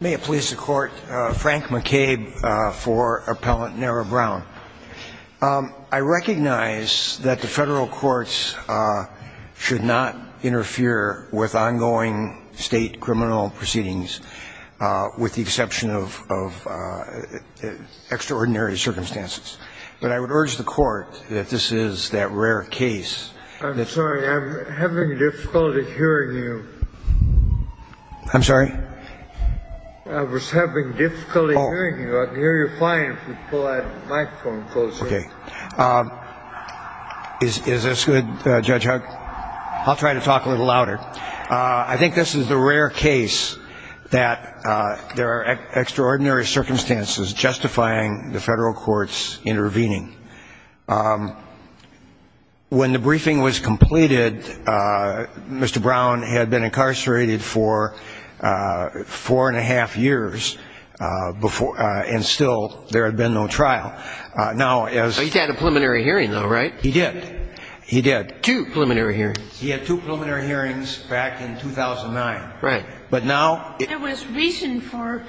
May it please the Court, Frank McCabe for Appellant Narrah Brown. I recognize that the federal courts should not interfere with ongoing state criminal proceedings with the exception of extraordinary circumstances. But I would urge the Court that this is that rare case. I'm sorry, I'm having difficulty hearing you. I'm sorry? I was having difficulty hearing you. I can hear you fine if you pull that microphone closer. Okay. Is this good, Judge Huck? I'll try to talk a little louder. I think this is the rare case that there are extraordinary circumstances justifying the federal courts intervening. When the briefing was completed, Mr. Brown had been incarcerated for four-and-a-half years, and still there had been no trial. He had a preliminary hearing, though, right? He did. He did. Two preliminary hearings. He had two preliminary hearings back in 2009. Right. But now — There was reason for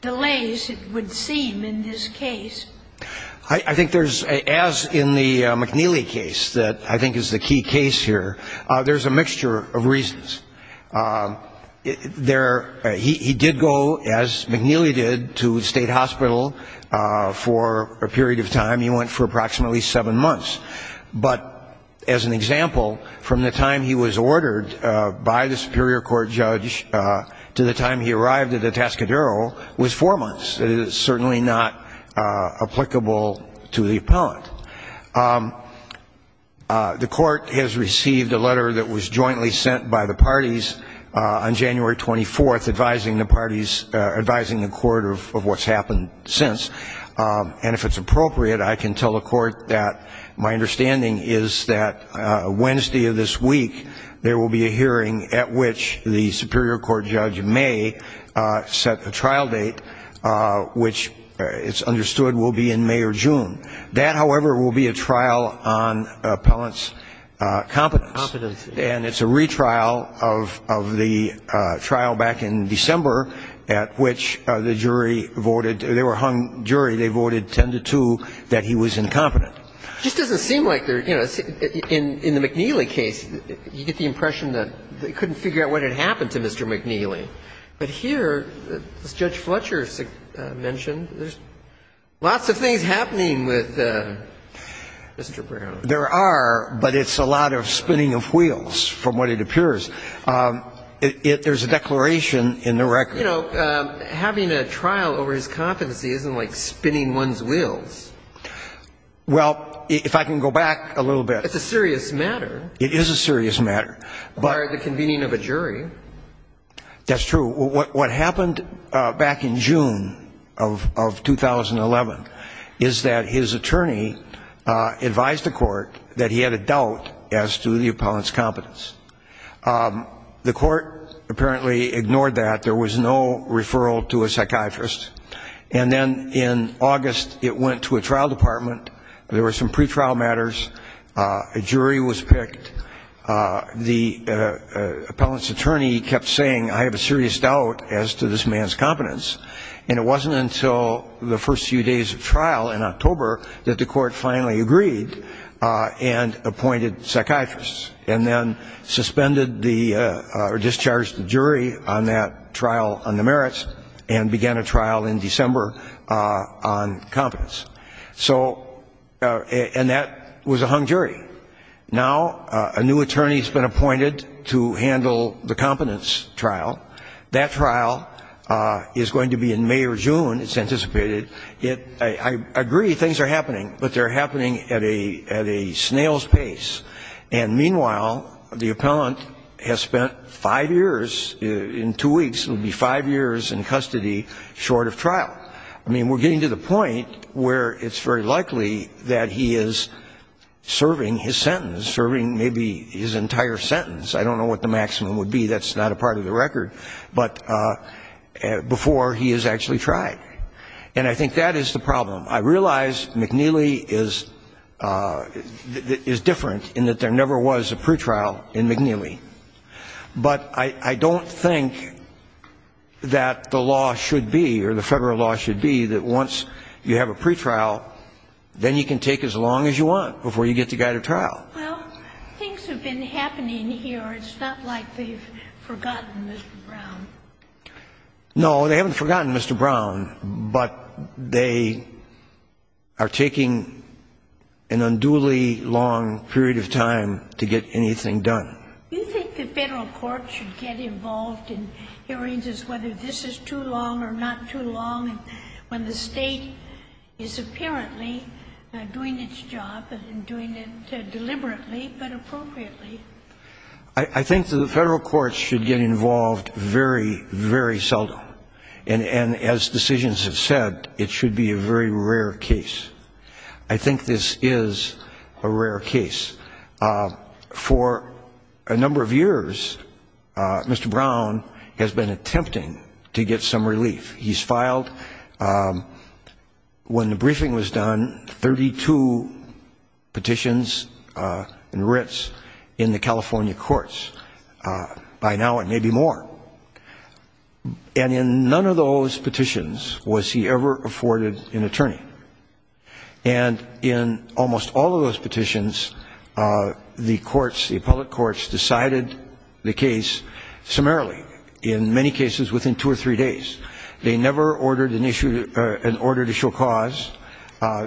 delays, it would seem, in this case. I think there's — as in the McNeely case that I think is the key case here, there's a mixture of reasons. There — he did go, as McNeely did, to state hospital for a period of time. He went for approximately seven months. But as an example, from the time he was ordered by the superior court judge to the time he arrived at the Tascadero was four months. It is certainly not applicable to the appellant. The court has received a letter that was jointly sent by the parties on January 24, advising the parties — advising the court of what's happened since. And if it's appropriate, I can tell the court that my understanding is that Wednesday of this week, there will be a hearing at which the superior court judge may set the trial date, which it's understood will be in May or June. That, however, will be a trial on appellant's competence. Competence. And it's a retrial of the trial back in December at which the jury voted — they were hung jury. They voted 10-2 that he was incompetent. It just doesn't seem like there — you know, in the McNeely case, you get the impression that they couldn't figure out what had happened to Mr. McNeely. But here, as Judge Fletcher mentioned, there's lots of things happening with Mr. Brown. There are, but it's a lot of spinning of wheels, from what it appears. There's a declaration in the record. You know, having a trial over his competency isn't like spinning one's wheels. Well, if I can go back a little bit. It's a serious matter. It is a serious matter. By the convening of a jury. That's true. What happened back in June of 2011 is that his attorney advised the court that he had a doubt as to the appellant's competence. The court apparently ignored that. There was no referral to a psychiatrist. And then in August, it went to a trial department. There were some pretrial matters. A jury was picked. The appellant's attorney kept saying, I have a serious doubt as to this man's competence. And it wasn't until the first few days of trial in October that the court finally agreed and appointed psychiatrists. And then suspended the, or discharged the jury on that trial on the merits and began a trial in December on competence. So, and that was a hung jury. Now, a new attorney has been appointed to handle the competence trial. That trial is going to be in May or June, it's anticipated. I agree, things are happening. But they're happening at a snail's pace. And meanwhile, the appellant has spent five years, in two weeks, it will be five years in custody short of trial. I mean, we're getting to the point where it's very likely that he is serving his sentence, serving maybe his entire sentence. I don't know what the maximum would be. That's not a part of the record. But before he is actually tried. And I think that is the problem. I realize McNeely is different in that there never was a pretrial in McNeely. But I don't think that the law should be, or the federal law should be, that once you have a pretrial, then you can take as long as you want before you get the guy to trial. Well, things have been happening here. It's not like they've forgotten Mr. Brown. No, they haven't forgotten Mr. Brown. But they are taking an unduly long period of time to get anything done. Do you think the federal court should get involved in hearings as whether this is too long or not too long when the state is apparently doing its job and doing it deliberately but appropriately? I think the federal courts should get involved very, very seldom. And as decisions have said, it should be a very rare case. I think this is a rare case. For a number of years, Mr. Brown has been attempting to get some relief. He's filed, when the briefing was done, 32 petitions and writs in the California courts. By now it may be more. And in none of those petitions was he ever afforded an attorney. And in almost all of those petitions, the courts, the appellate courts, decided the case summarily, in many cases within two or three days. They never ordered an issue, an order to show cause.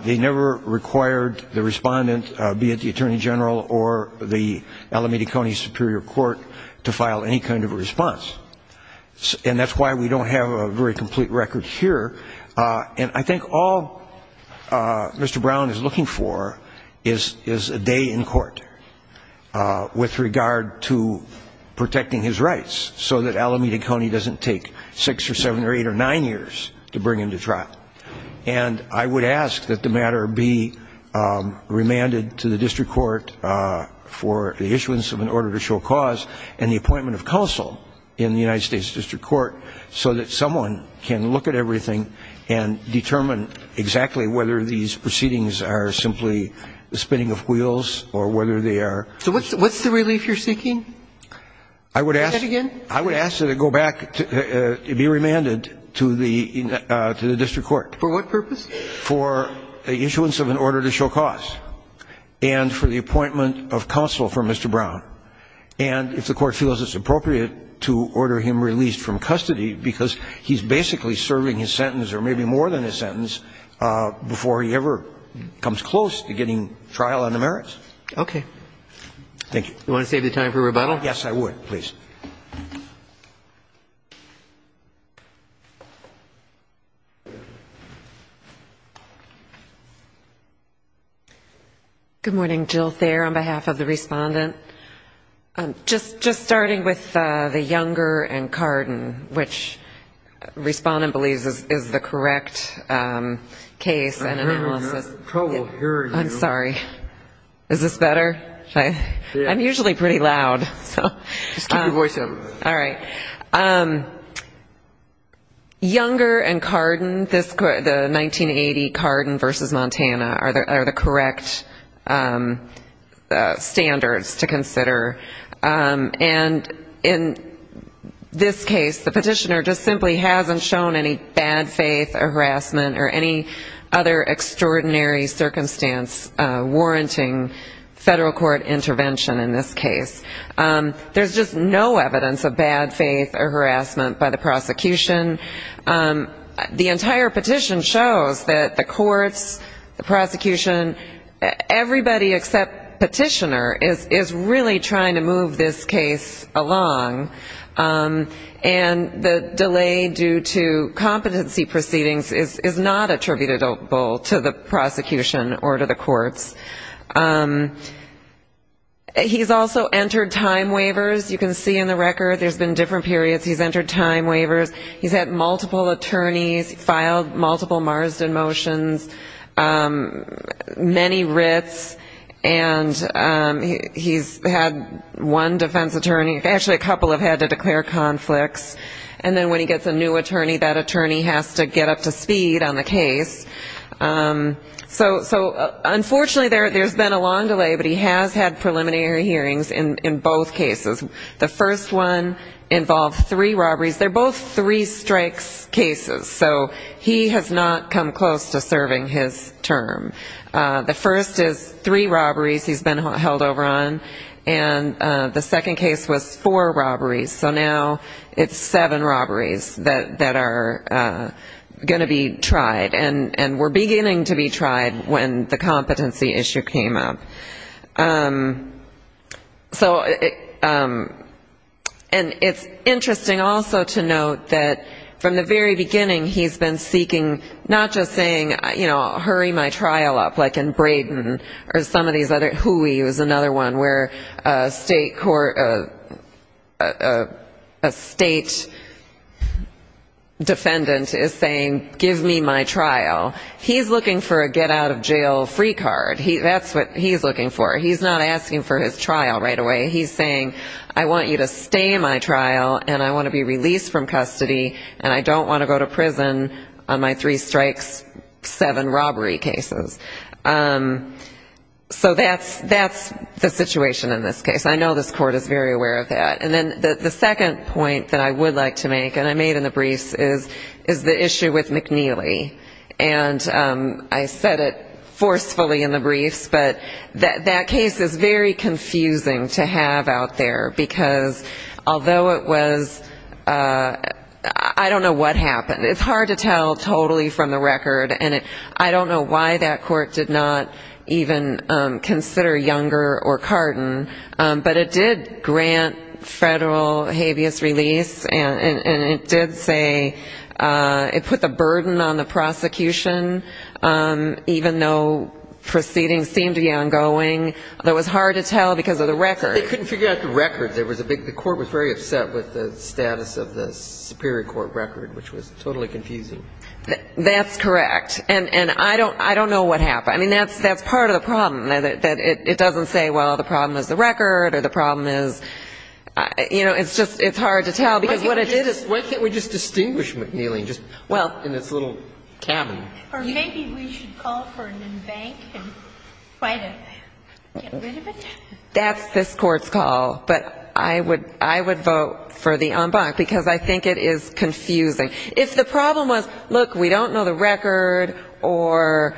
They never required the respondent, be it the attorney general or the Alameda County Superior Court, to file any kind of a response. And that's why we don't have a very complete record here. And I think all Mr. Brown is looking for is a day in court with regard to protecting his rights, so that Alameda County doesn't take six or seven or eight or nine years to bring him to trial. And I would ask that the matter be remanded to the district court for the issuance of an order to show cause and the appointment of counsel in the United States district court so that someone can look at everything and determine exactly whether these proceedings are simply the spinning of wheels or whether they are. So what's the relief you're seeking? I would ask. Say that again. I would ask that the matter be remanded to the district court. For what purpose? For the issuance of an order to show cause and for the appointment of counsel for Mr. Brown. And if the court feels it's appropriate to order him released from custody, because he's basically serving his sentence or maybe more than his sentence before he ever comes close to getting trial on the merits. Thank you. You want to save the time for rebuttal? Yes, I would, please. Thank you. Good morning. Jill Thayer on behalf of the Respondent. Just starting with the Younger and Carden, which Respondent believes is the correct case and analysis. I hear you. I probably hear you. I'm sorry. Is this better? I'm usually pretty loud. Just keep your voice up. All right. Younger and Carden, the 1980 Carden v. Montana are the correct standards to consider. And in this case, the petitioner just simply hasn't shown any bad faith or harassment or any other extraordinary circumstance warranting federal court intervention in this case. There's just no evidence of bad faith or harassment by the prosecution. The entire petition shows that the courts, the prosecution, everybody except petitioner, is really trying to move this case along. And the delay due to competency proceedings is not attributable to the prosecution or to the courts. He's also entered time waivers. You can see in the record there's been different periods he's entered time waivers. He's had multiple attorneys, filed multiple Marsden motions, many writs, and he's had one defense attorney, actually a couple have had to declare conflicts. And then when he gets a new attorney, that attorney has to get up to speed on the case. So unfortunately there's been a long delay, but he has had preliminary hearings in both cases. The first one involved three robberies. They're both three strikes cases. So he has not come close to serving his term. The first is three robberies he's been held over on, and the second case was four robberies. So now it's seven robberies that are going to be tried, and were beginning to be tried when the competency issue came up. And it's interesting also to note that from the very beginning he's been seeking not just saying, you know, hurry my trial up, like in Braden or some of these other, Huey was another one where a state court, a state defendant is saying, give me my trial. He's looking for a get out of jail free card. That's what he's looking for. He's not asking for his trial right away. He's saying, I want you to stay in my trial, and I want to be released from custody, and I don't want to go to prison on my three strikes, seven robbery cases. So that's the situation in this case. I know this court is very aware of that. And then the second point that I would like to make, and I made in the briefs, is the issue with McNeely. And I said it forcefully in the briefs, but that case is very confusing to have out there, because although it was, I don't know what happened. It's hard to tell totally from the record. And I don't know why that court did not even consider Younger or Carton, but it did grant federal habeas release, and it did say it put the burden on the prosecution, even though proceedings seemed to be ongoing. It was hard to tell because of the record. They couldn't figure out the record. The court was very upset with the status of the superior court record, which was totally confusing. That's correct. And I don't know what happened. I mean, that's part of the problem, that it doesn't say, well, the problem is the record or the problem is, you know, it's just hard to tell because what it did is Why can't we just distinguish McNeely and just put it in its little cabin? Or maybe we should call for an embankment and try to get rid of it. That's this court's call. But I would vote for the embankment because I think it is confusing. If the problem was, look, we don't know the record, or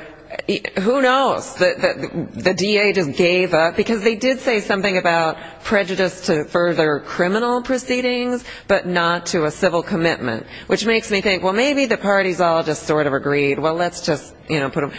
who knows, the DA just gave up, because they did say something about prejudice to further criminal proceedings, but not to a civil commitment, which makes me think, well, maybe the parties all just sort of agreed, well, let's just, you know, put them.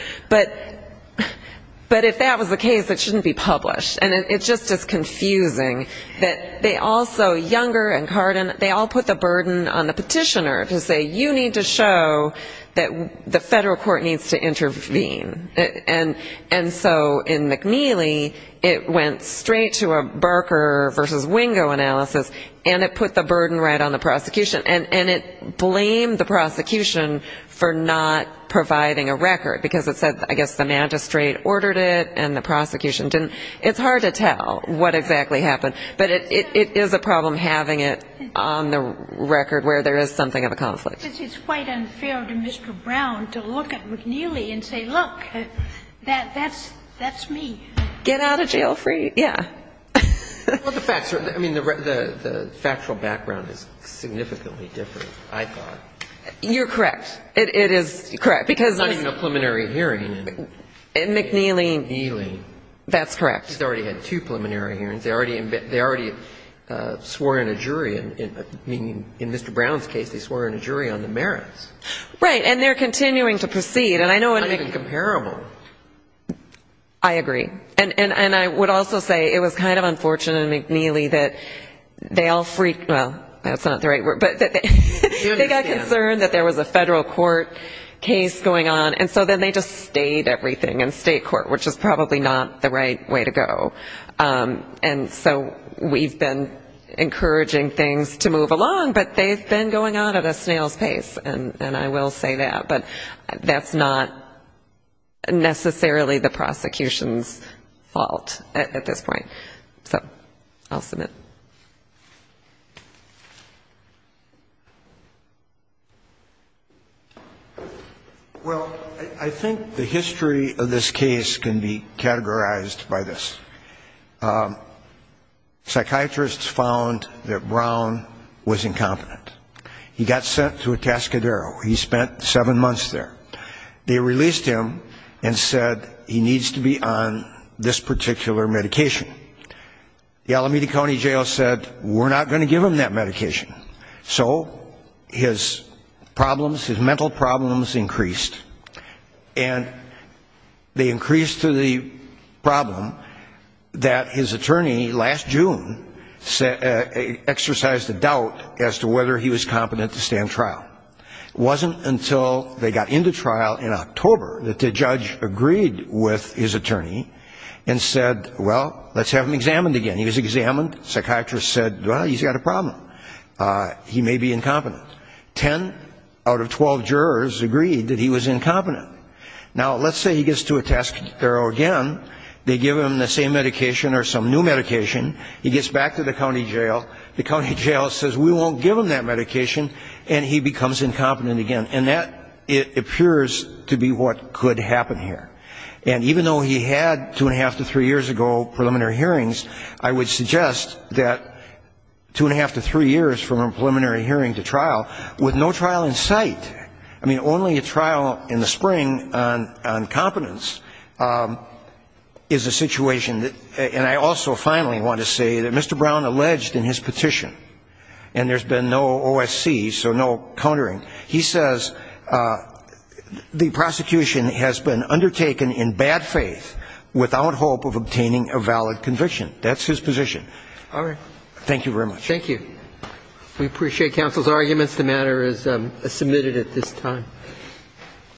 But if that was the case, it shouldn't be published. And it's just as confusing that they also, Younger and Cardin, they all put the burden on the petitioner to say, you need to show that the federal court needs to intervene. And so in McNeely, it went straight to a Barker versus Wingo analysis, and it put the burden right on the prosecution, and it blamed the prosecution for not providing a record, because it said, I guess, the magistrate ordered it and the prosecution didn't. It's hard to tell what exactly happened. But it is a problem having it on the record where there is something of a conflict. But it's quite unfair to Mr. Brown to look at McNeely and say, look, that's me. Get out of jail free. Yeah. Well, the facts are, I mean, the factual background is significantly different, I thought. You're correct. It is correct. There's not even a preliminary hearing. In McNeely. McNeely. That's correct. They already had two preliminary hearings. They already swore in a jury. I mean, in Mr. Brown's case, they swore in a jury on the merits. Right. And they're continuing to proceed. It's not even comparable. I agree. And I would also say it was kind of unfortunate in McNeely that they all freaked, well, that's not the right word, but they got concerned that there was a federal court case going on, and so then they just stayed everything in state court, which is probably not the right way to go. And so we've been encouraging things to move along, but they've been going on at a snail's pace, and I will say that. But that's not necessarily the prosecution's fault at this point. So I'll submit. Well, I think the history of this case can be categorized by this. Psychiatrists found that Brown was incompetent. He got sent to a cascadero. He spent seven months there. They released him and said he needs to be on this particular medication. The Alameda County Jail said, we're not going to give him that medication. So his problems, his mental problems increased. And they increased to the problem that his attorney last June exercised a doubt as to whether he was competent to stand trial. It wasn't until they got into trial in October that the judge agreed with his attorney and said, well, let's do it. Let's have him examined again. He was examined. Psychiatrists said, well, he's got a problem. He may be incompetent. Ten out of 12 jurors agreed that he was incompetent. Now, let's say he gets to a cascadero again. They give him the same medication or some new medication. He gets back to the county jail. The county jail says, we won't give him that medication. And he becomes incompetent again. And that appears to be what could happen here. And even though he had two-and-a-half to three years ago preliminary hearings, I would suggest that two-and-a-half to three years from a preliminary hearing to trial, with no trial in sight, I mean, only a trial in the spring on competence, is a situation that, and I also finally want to say that Mr. Brown alleged in his petition, and there's been no OSC, so no countering, he says, well, let's have him examined again. And that's his position. Thank you very much. Thank you.